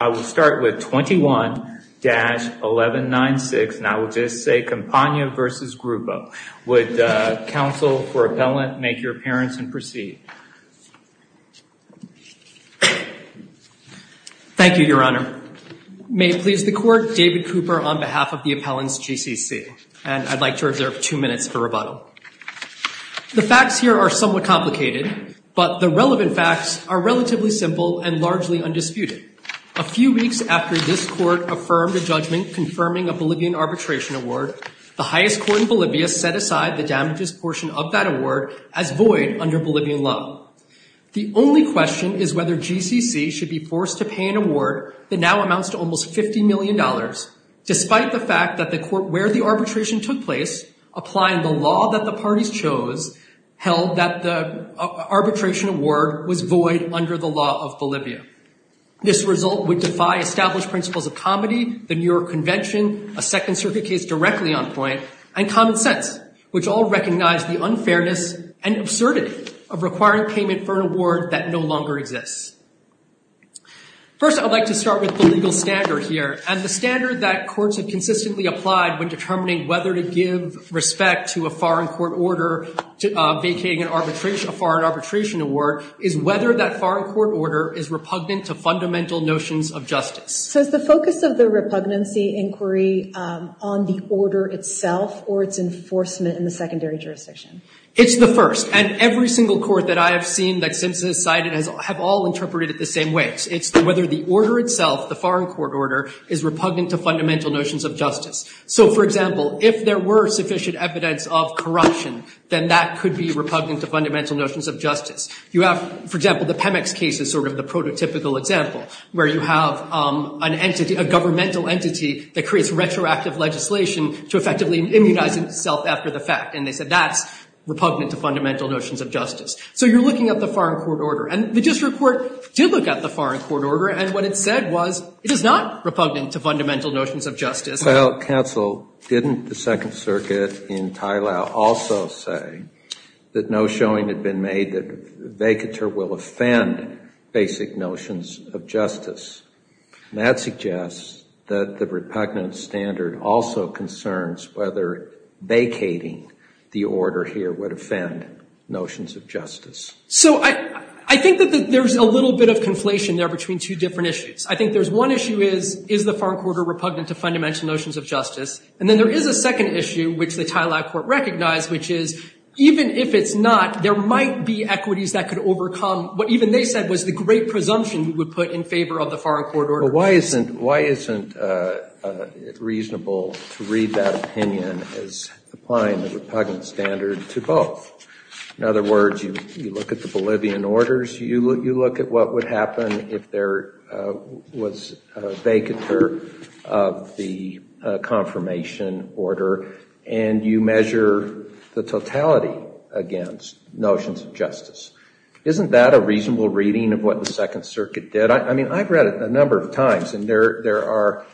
I will start with 21-1196, and I will just say Campania v. Grupo. Would counsel for appellant make your appearance and proceed? Thank you, Your Honor. May it please the Court, David Cooper on behalf of the Appellant's GCC. And I'd like to reserve two minutes for rebuttal. The facts here are somewhat complicated, but the relevant facts are relatively simple and largely undisputed. A few weeks after this Court affirmed a judgment confirming a Bolivian arbitration award, the highest court in Bolivia set aside the damages portion of that award as void under Bolivian law. The only question is whether GCC should be forced to pay an award that now amounts to almost $50 million, despite the fact that the court where the arbitration took place, applying the law that the parties chose, held that the arbitration award was void under the law of Bolivia. This result would defy established principles of comedy, the New York Convention, a Second Circuit case directly on point, and common sense, which all recognize the unfairness and absurdity of requiring payment for an award that no longer exists. First, I'd like to start with the legal standard here, and the standard that courts have consistently applied when determining whether to give respect to a foreign court order vacating a foreign arbitration award is whether that foreign court order is repugnant to fundamental notions of justice. So is the focus of the repugnancy inquiry on the order itself or its enforcement in the secondary jurisdiction? It's the first, and every single court that I have seen that Simpson has cited have all interpreted it the same way. It's whether the order itself, the foreign court order, is repugnant to fundamental notions of justice. You have, for example, the Pemex case is sort of the prototypical example, where you have an entity, a governmental entity, that creates retroactive legislation to effectively immunize itself after the fact, and they said that's repugnant to fundamental notions of justice. So you're looking at the foreign court order. And the district court did look at the foreign court order, and what it said was it is not repugnant to fundamental notions of justice. Well, counsel, didn't the Second Circuit in Tlailao also say that notions of justice showing had been made that vacatur will offend basic notions of justice? That suggests that the repugnant standard also concerns whether vacating the order here would offend notions of justice. So I think that there's a little bit of conflation there between two different issues. I think there's one issue is, is the foreign court order repugnant to fundamental notions of justice? And then there is a second issue, which the Tlailao Court recognized, which is even if it's not, there might be equities that could overcome what even they said was the great presumption we would put in favor of the foreign court order. Why isn't it reasonable to read that opinion as applying the repugnant standard to both? In other words, you look at the Bolivian orders, you look at what would happen if there was a vacatur of the confirmation order, and you measure the totality against notions of justice. Isn't that a reasonable reading of what the Second Circuit did? I mean, I've read it a number of times, and there are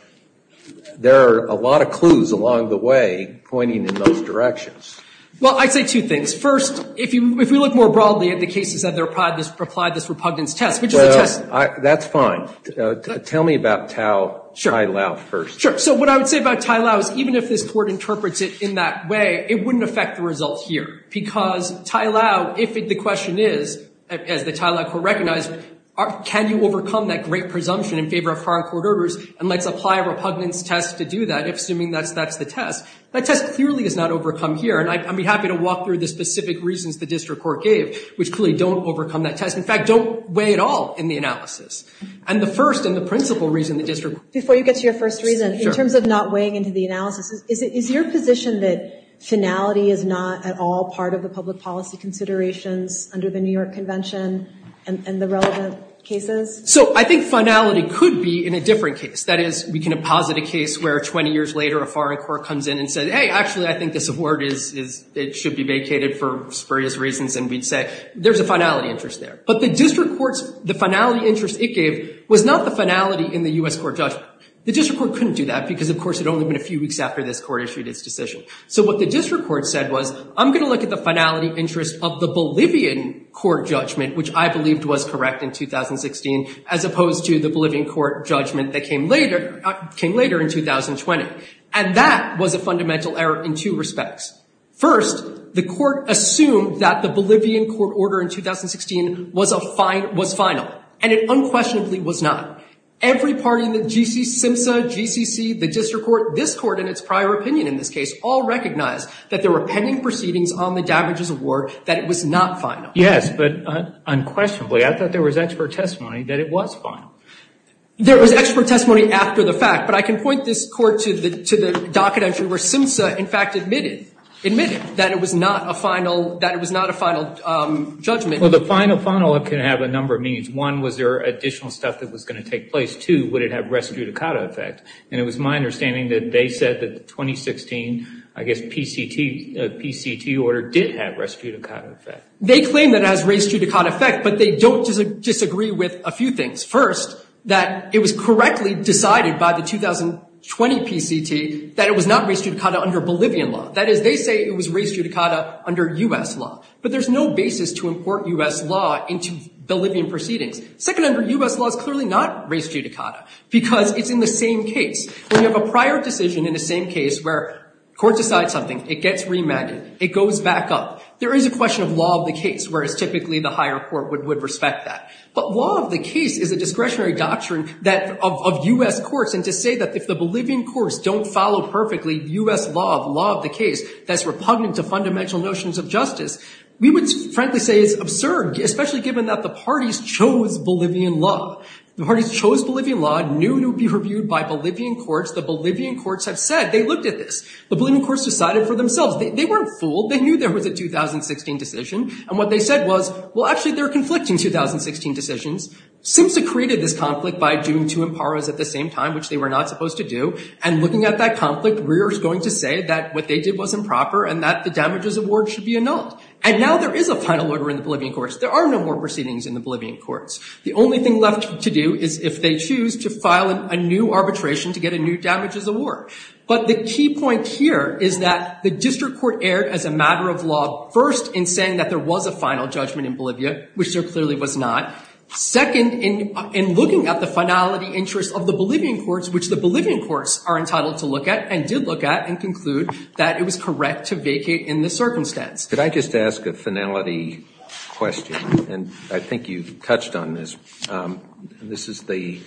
a lot of clues along the way pointing in those directions. Well, I'd say two things. First, if we look more broadly at the cases that have applied this repugnance test, which is a test. Well, that's fine. Tell me about Tlailao first. Sure. So what I would say about Tlailao is even if this Court interprets it in that way, it wouldn't affect the results here. Because Tlailao, if the question is, as the Tlailao Court recognized, can you overcome that great presumption in favor of foreign court orders, and let's apply a repugnance test to do that, assuming that's the test. That test clearly is not overcome here, and I'd be happy to walk through the specific reasons the district court gave, which clearly don't overcome that test. In fact, don't weigh at all in the analysis. And the first and the principal reason the district court gave. Before you get to your first reason, in terms of not weighing into the analysis, is it your position that finality is not at all part of the public policy considerations under the New York Convention and the relevant cases? So I think finality could be in a different case. That is, we can posit a case where 20 years later a foreign court comes in and says, hey, actually I think this award should be vacated for various reasons, and we'd say, there's a finality interest there. But the district court's, the finality interest it gave, was not the finality in the U.S. court judgment. The district court couldn't do that, because of course it had only been a few weeks after this court issued its decision. So what the district court said was, I'm going to look at the finality interest of the Bolivian court judgment, which I believed was correct in 2016, as opposed to the Bolivian court judgment that came later in 2020. And that was a fundamental error in two respects. First, the court assumed that the Bolivian court order in 2016 was final, and it unquestionably was not. Every party in the G.C. SIMSA, GCC, the district court, this court in its prior opinion in this case, all recognized that there were pending proceedings on the damages award, that it was not final. Yes, but unquestionably, I thought there was expert testimony that it was final. There was expert testimony after the fact, but I can point this court to the docket entry where SIMSA, in fact, admitted, admitted that it was not a final, that it was not a final judgment. Well, the final, final can have a number of meanings. One, was there additional stuff that was going to take place? Two, would it have res judicata effect? And it was my understanding that they said that the 2016, I guess, PCT, PCT order did have res judicata effect. They claim that it has res judicata effect, but they don't disagree with a few things. First, that it was correctly decided by the 2020 PCT that it was not res judicata under Bolivian law. That is, they say it was res judicata under U.S. law. But there's no basis to import U.S. law into Bolivian proceedings. Second, under U.S. law, it's clearly not res judicata because it's in the same case. When you have a prior decision in the same case where court decides something, it gets remanded, it goes back up, there is a question of law of the case, whereas typically the higher court would respect that. But law of the case is a discretionary doctrine that, of U.S. courts, and to say that if the Bolivian courts don't follow perfectly U.S. law, the law of the case, that's repugnant to fundamental notions of justice, we would frankly say it's absurd, especially given that the parties chose Bolivian law. The parties chose Bolivian law, knew it would be reviewed by Bolivian courts. The Bolivian courts have said, they looked at this. The Bolivian courts decided for themselves. They weren't fooled. They knew there was a 2016 decision, and what they said was, well, actually, they're conflicting 2016 decisions. SIMSA created this conflict by doing two imparos at the same time, which they were not supposed to do, and looking at that conflict, we are going to say that what they did was improper and that the damages award should be annulled. And now there is a final order in the Bolivian courts. There are no more proceedings in the Bolivian courts. The only thing left to do is if they choose to file a new arbitration to get a new damages award. But the key point here is that the district court erred as a matter of law first in saying that there was a final judgment in Bolivia, which there clearly was not, second in looking at the finality interest of the Bolivian courts, which the Bolivian courts are entitled to look at and did look at and conclude that it was correct to vacate in this circumstance. Could I just ask a finality question? And I think you touched on this. This is the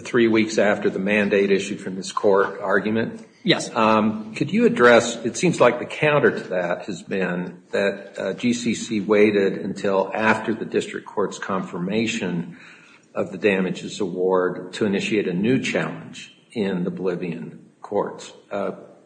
three weeks after the mandate issued from this court argument. Yes. Could you address, it seems like the counter to that has been that GCC waited until after the district court's confirmation of the damages award to initiate a new challenge in the Bolivian courts.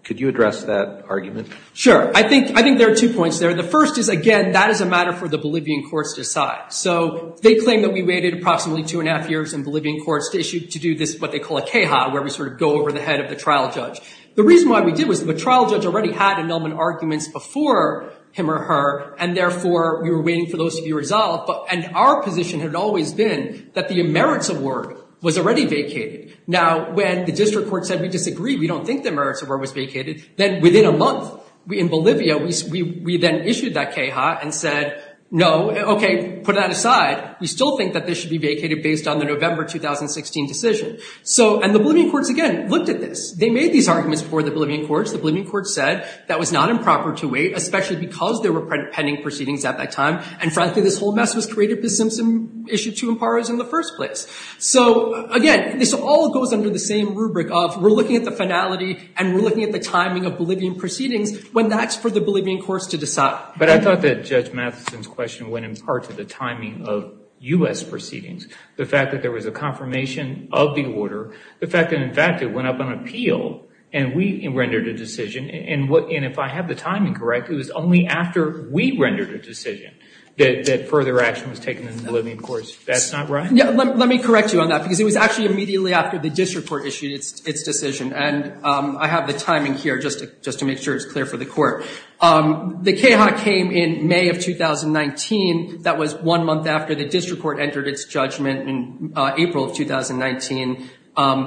Could you address that argument? Sure. I think there are two points there. The first is, again, that is a matter for the Bolivian courts to decide. So they claim that we waited approximately two and a half years in Bolivian courts to issue, to do this, what they call a queja, where we sort of go over the head of the trial judge. The reason why we did was the trial judge already had annulment arguments before him or her, and therefore we were waiting for those to be resolved. And our position had always been that the merits award was already vacated. Now when the district court said, we disagree, we don't think the merits award was vacated, then within a month, in Bolivia, we then issued that queja and said, no, okay, put that aside. We still think that this should be vacated based on the November 2016 decision. So and the Bolivian courts, again, looked at this. They made these arguments before the Bolivian courts. The Bolivian courts said that was not improper to wait, especially because there were pending proceedings at that time. And frankly, this whole mess was created by Simpson issued to Amparo's in the first place. So again, this all goes under the same rubric of we're looking at the finality and we're looking at the timing of Bolivian proceedings when that's for the Bolivian courts to decide. But I thought that Judge Matheson's question went in part to the timing of U.S. proceedings. The fact that there was a confirmation of the order. The fact that, in fact, it went up on appeal and we rendered a decision. And if I have the timing correct, it was only after we rendered a decision that further action was taken in the Bolivian courts. That's not right? Yeah, let me correct you on that, because it was actually immediately after the district court issued its decision. And I have the timing here just to make sure it's clear for the court. The queja came in May of 2019. That was one month after the district court entered its judgment in April of 2019.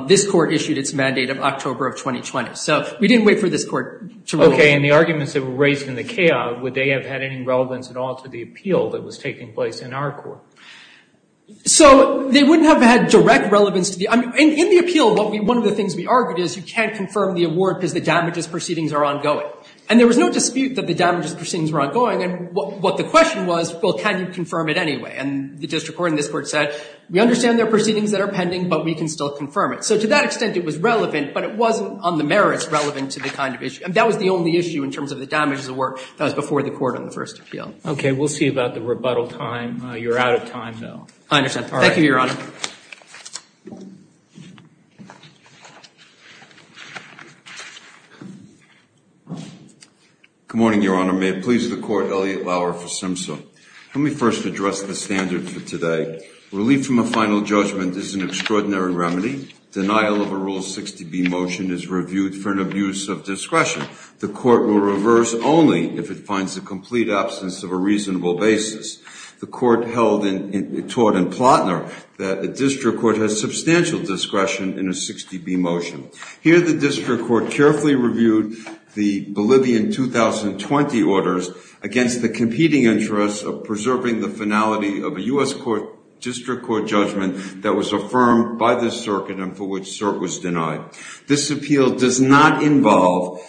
This court issued its mandate of October of 2020. So we didn't wait for this court to rule. Okay. And the arguments that were raised in the queja, would they have had any relevance at all to the appeal that was taking place in our court? So they wouldn't have had direct relevance to the—in the appeal, one of the things we argued is you can't confirm the award because the damages proceedings are ongoing. And there was no dispute that the damages proceedings were ongoing. And what the question was, well, can you confirm it anyway? And the district court in this court said, we understand there are proceedings that are pending, but we can still confirm it. So to that extent, it was relevant, but it wasn't on the merits relevant to the kind of issue. I mean, that was the only issue in terms of the damages award that was before the court on the first appeal. Okay. We'll see about the rebuttal time. You're out of time, though. I understand. All right. Thank you, Your Honor. Good morning, Your Honor. May it please the Court, Elliot Lauer for Simpson. Let me first address the standard for today. Relief from a final judgment is an extraordinary remedy. Denial of a Rule 60B motion is reviewed for an abuse of discretion. The court will reverse only if it finds a complete absence of a reasonable basis. The court held in—taught in Plotner that the district court has substantial discretion in a 60B motion. Here, the district court carefully reviewed the Bolivian 2020 orders against the competing interests of preserving the finality of a U.S. district court judgment that was affirmed by the circuit and for which cert was denied. This appeal does not involve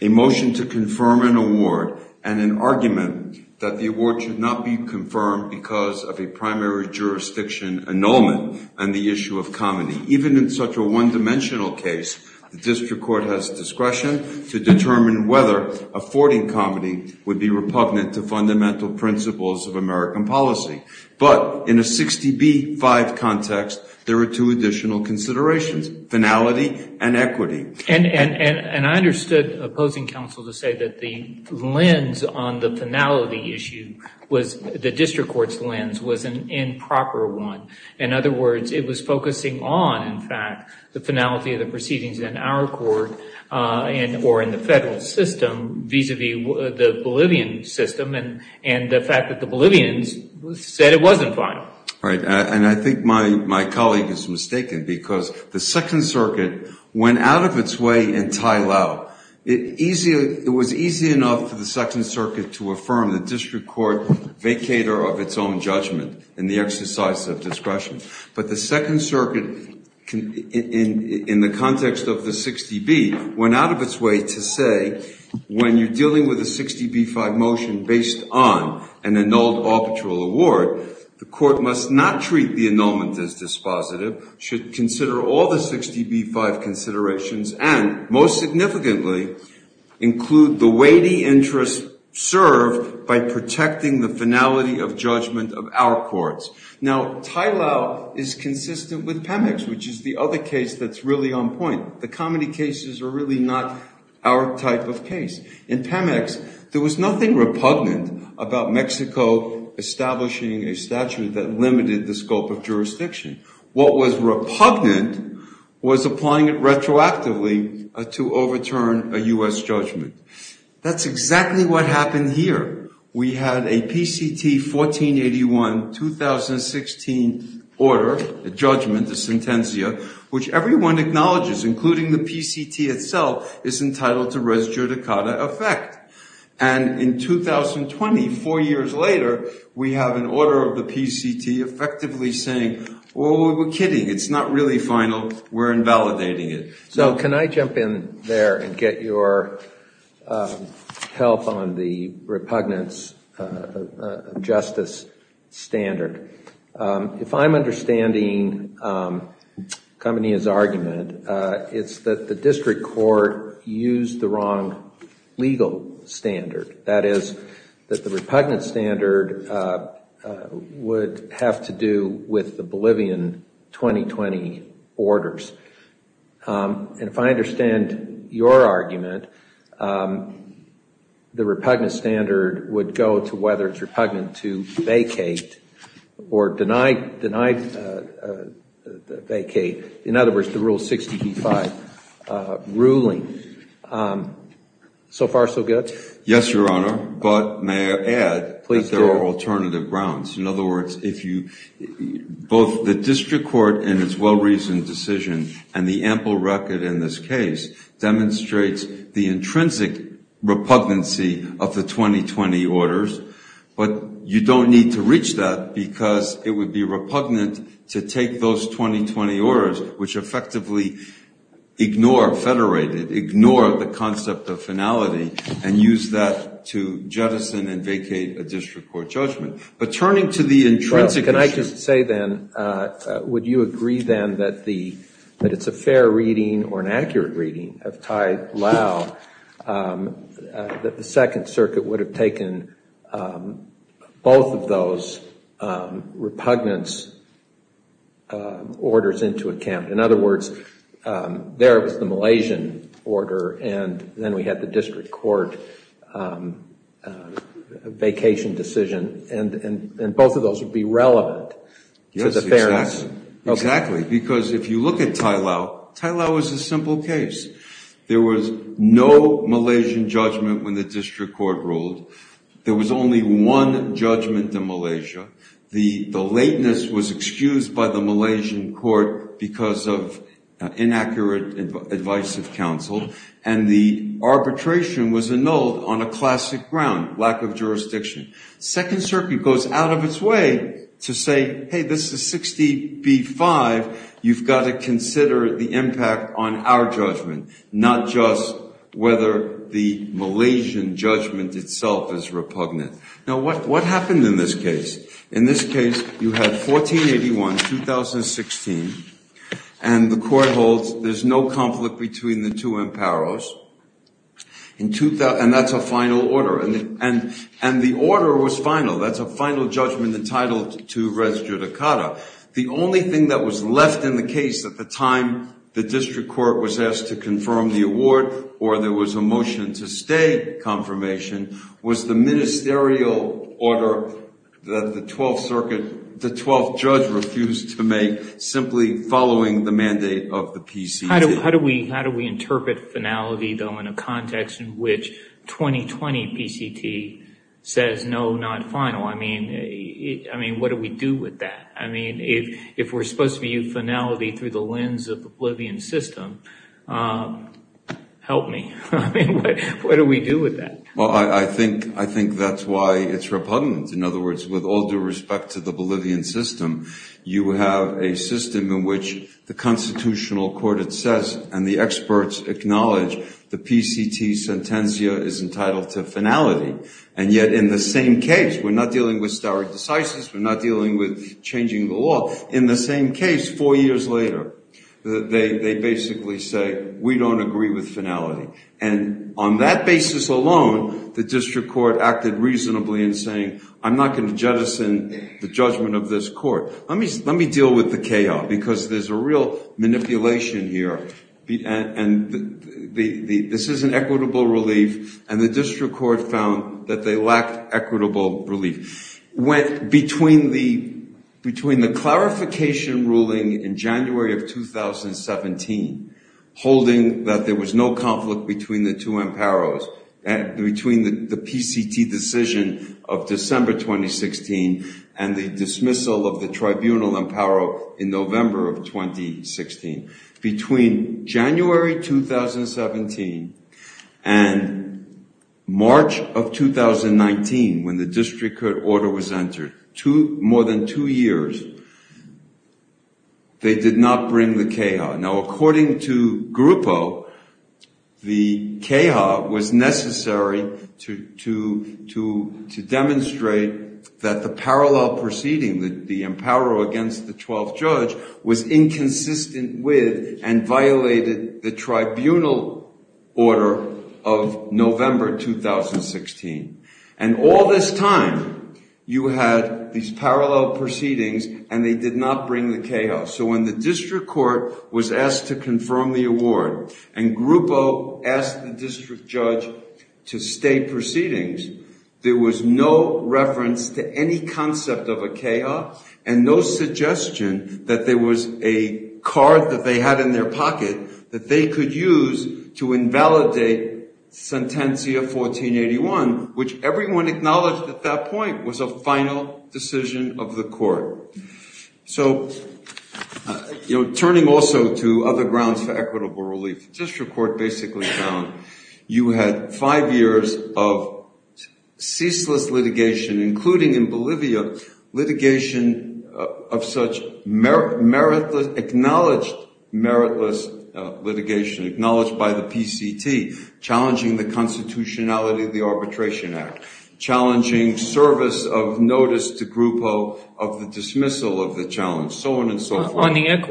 a motion to confirm an award and an argument that the award should not be confirmed because of a primary jurisdiction annulment on the issue of comity. Even in such a one-dimensional case, the district court has discretion to determine whether affording comity would be repugnant to fundamental principles of American policy. But in a 60B-5 context, there are two additional considerations, finality and equity. And I understood opposing counsel to say that the lens on the finality issue was—the district court's lens was an improper one. In other words, it was focusing on, in fact, the finality of the proceedings in our court and—or in the federal system vis-à-vis the Bolivian system and the fact that the Bolivians said it wasn't final. Right. And I think my colleague is mistaken because the Second Circuit went out of its way in Tylel. It was easy enough for the Second Circuit to affirm the district court vacator of its own judgment in the exercise of discretion. But the Second Circuit, in the context of the 60B, went out of its way to say, when you're dealing with a 60B-5 motion based on an annulled arbitral award, the court must not treat the annulment as dispositive, should consider all the 60B-5 considerations, and most significantly, include the weighty interest served by protecting the finality of judgment of our courts. Now, Tylel is consistent with PEMEX, which is the other case that's really on point. The comedy cases are really not our type of case. In PEMEX, there was nothing repugnant about Mexico establishing a statute that limited the scope of jurisdiction. What was repugnant was applying it retroactively to overturn a U.S. judgment. That's exactly what happened here. We had a PCT 1481-2016 order, a judgment, a sentencia, which everyone acknowledges, including the PCT itself, is entitled to res judicata effect. And in 2020, four years later, we have an order of the PCT effectively saying, oh, we're kidding. It's not really final. We're invalidating it. So can I jump in there and get your help on the repugnance justice standard? If I'm understanding Khamenei's argument, it's that the district court used the wrong legal standard. That is, that the repugnant standard would have to do with the Bolivian 2020 orders. And if I understand your argument, the repugnant standard would go to whether it's repugnant to vacate or denied vacate, in other words, the Rule 60b-5 ruling. So far, so good? Yes, Your Honor. But may I add that there are alternative grounds. In other words, both the district court and its well-reasoned decision and the ample record in this case demonstrates the intrinsic repugnancy of the 2020 orders. But you don't need to reach that, because it would be repugnant to take those 2020 orders, which effectively ignore federated, ignore the concept of finality, and use that to jettison and vacate a district court judgment. But turning to the intrinsic issue. I would say then, would you agree then that it's a fair reading or an accurate reading of Thai-Lao that the Second Circuit would have taken both of those repugnance orders into account? In other words, there was the Malaysian order, and then we had the district court vacation decision, and both of those would be relevant to the fairness. Yes, exactly. Because if you look at Thai-Lao, Thai-Lao was a simple case. There was no Malaysian judgment when the district court ruled. There was only one judgment in Malaysia. The lateness was excused by the Malaysian court because of inaccurate advice of counsel, and the arbitration was annulled on a classic ground, lack of jurisdiction. Second Circuit goes out of its way to say, hey, this is 60B5. You've got to consider the impact on our judgment, not just whether the Malaysian judgment itself is repugnant. Now, what happened in this case? In this case, you had 1481, 2016, and the court holds there's no conflict between the two imparos, and that's a final order, and the order was final. That's a final judgment entitled to res judicata. The only thing that was left in the case at the time the district court was asked to confirm the award or there was a motion to stay confirmation was the ministerial order that the Twelfth Circuit, the Twelfth Judge refused to make simply following the mandate of the PCC. How do we interpret finality, though, in a context in which 2020 PCT says no, not final? I mean, what do we do with that? I mean, if we're supposed to view finality through the lens of the Bolivian system, help me. I mean, what do we do with that? Well, I think that's why it's repugnant. In other words, with all due respect to the Bolivian system, you have a system in which the constitutional court, it says, and the experts acknowledge the PCT sentencia is entitled to finality, and yet in the same case, we're not dealing with stare decisis, we're not dealing with changing the law. In the same case, four years later, they basically say, we don't agree with finality, and on that basis alone, the district court acted reasonably in saying, I'm not going to jettison the judgment of this court. Let me deal with the chaos, because there's a real manipulation here, and this is an equitable relief, and the district court found that they lacked equitable relief. Between the clarification ruling in January of 2017, holding that there was no conflict between the two imperos, and between the PCT decision of December 2016, and the dismissal of the tribunal impero in November of 2016, between January 2017 and March of 2019, when the district court order was entered, more than two years, they did not bring the CAHA. Now, according to Grupo, the CAHA was necessary to demonstrate that the parallel proceeding, the impero against the 12th judge, was inconsistent with and violated the tribunal order of November 2016, and all this time, you had these parallel proceedings, and they did not bring the CAHA, so when the district court was asked to confirm the award, and Grupo asked the district judge to stay proceedings, there was no reference to any concept of a CAHA, and no suggestion that there was a card that they had in their pocket that they could use to invalidate Sentencia 1481, which everyone acknowledged at that point was a final decision of the court. So turning also to other grounds for equitable relief, the district court basically found you had five years of ceaseless litigation, including in Bolivia, litigation of such acknowledged meritless litigation, acknowledged by the PCT, challenging the constitutionality of the Arbitration Act, challenging service of notice to Grupo of the dismissal of the challenge, so on and so forth.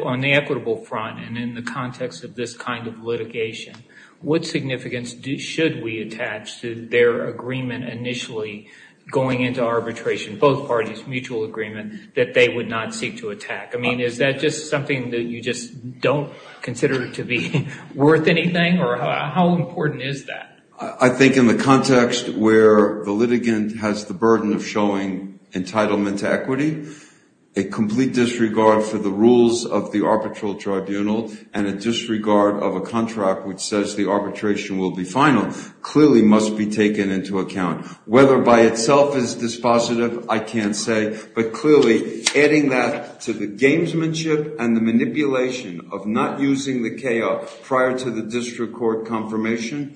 On the equitable front, and in the context of this kind of litigation, what significance should we attach to their agreement initially going into arbitration, both parties' mutual agreement, that they would not seek to attack? I mean, is that just something that you just don't consider to be worth anything, or how important is that? I think in the context where the litigant has the burden of showing entitlement to equity, a complete disregard for the rules of the arbitral tribunal and a disregard of a contract which says the arbitration will be final clearly must be taken into account. Whether by itself is dispositive, I can't say, but clearly adding that to the gamesmanship and the manipulation of not using the KO prior to the district court confirmation,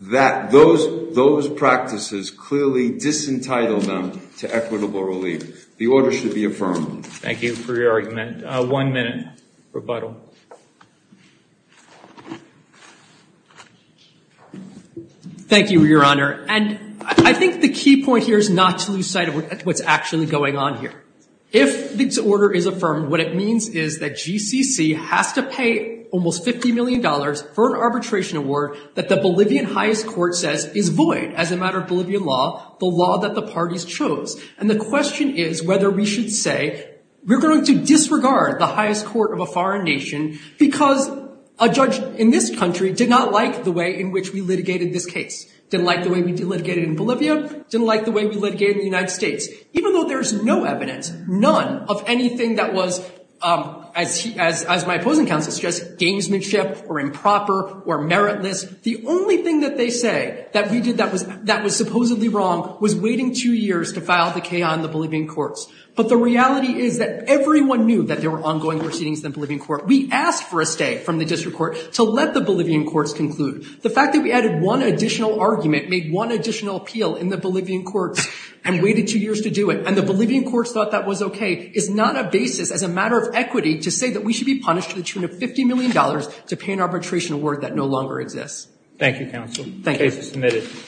that those practices clearly disentitle them to equitable relief. The order should be affirmed. Thank you for your argument. One minute rebuttal. Thank you, Your Honor. And I think the key point here is not to lose sight of what's actually going on here. If this order is affirmed, what it means is that GCC has to pay almost $50 million for an arbitration award that the Bolivian highest court says is void as a matter of Bolivian law, the law that the parties chose. And the question is whether we should say, we're going to disregard the highest court of a foreign nation because a judge in this country did not like the way in which we litigated this case, didn't like the way we litigated in Bolivia, didn't like the way we litigated in the United States. Even though there's no evidence, none of anything that was, as my opposing counsel suggests, gamesmanship or improper or meritless, the only thing that they say that we did that was supposedly wrong was waiting two years to file the CA on the Bolivian courts. But the reality is that everyone knew that there were ongoing proceedings in the Bolivian court. We asked for a stay from the district court to let the Bolivian courts conclude. The fact that we added one additional argument made one additional appeal in the Bolivian courts and waited two years to do it, and the Bolivian courts thought that was okay, is not a basis as a matter of equity to say that we should be punished to the tune of $50 million to pay an arbitration award that no longer exists. Thank you, counsel. The case is submitted.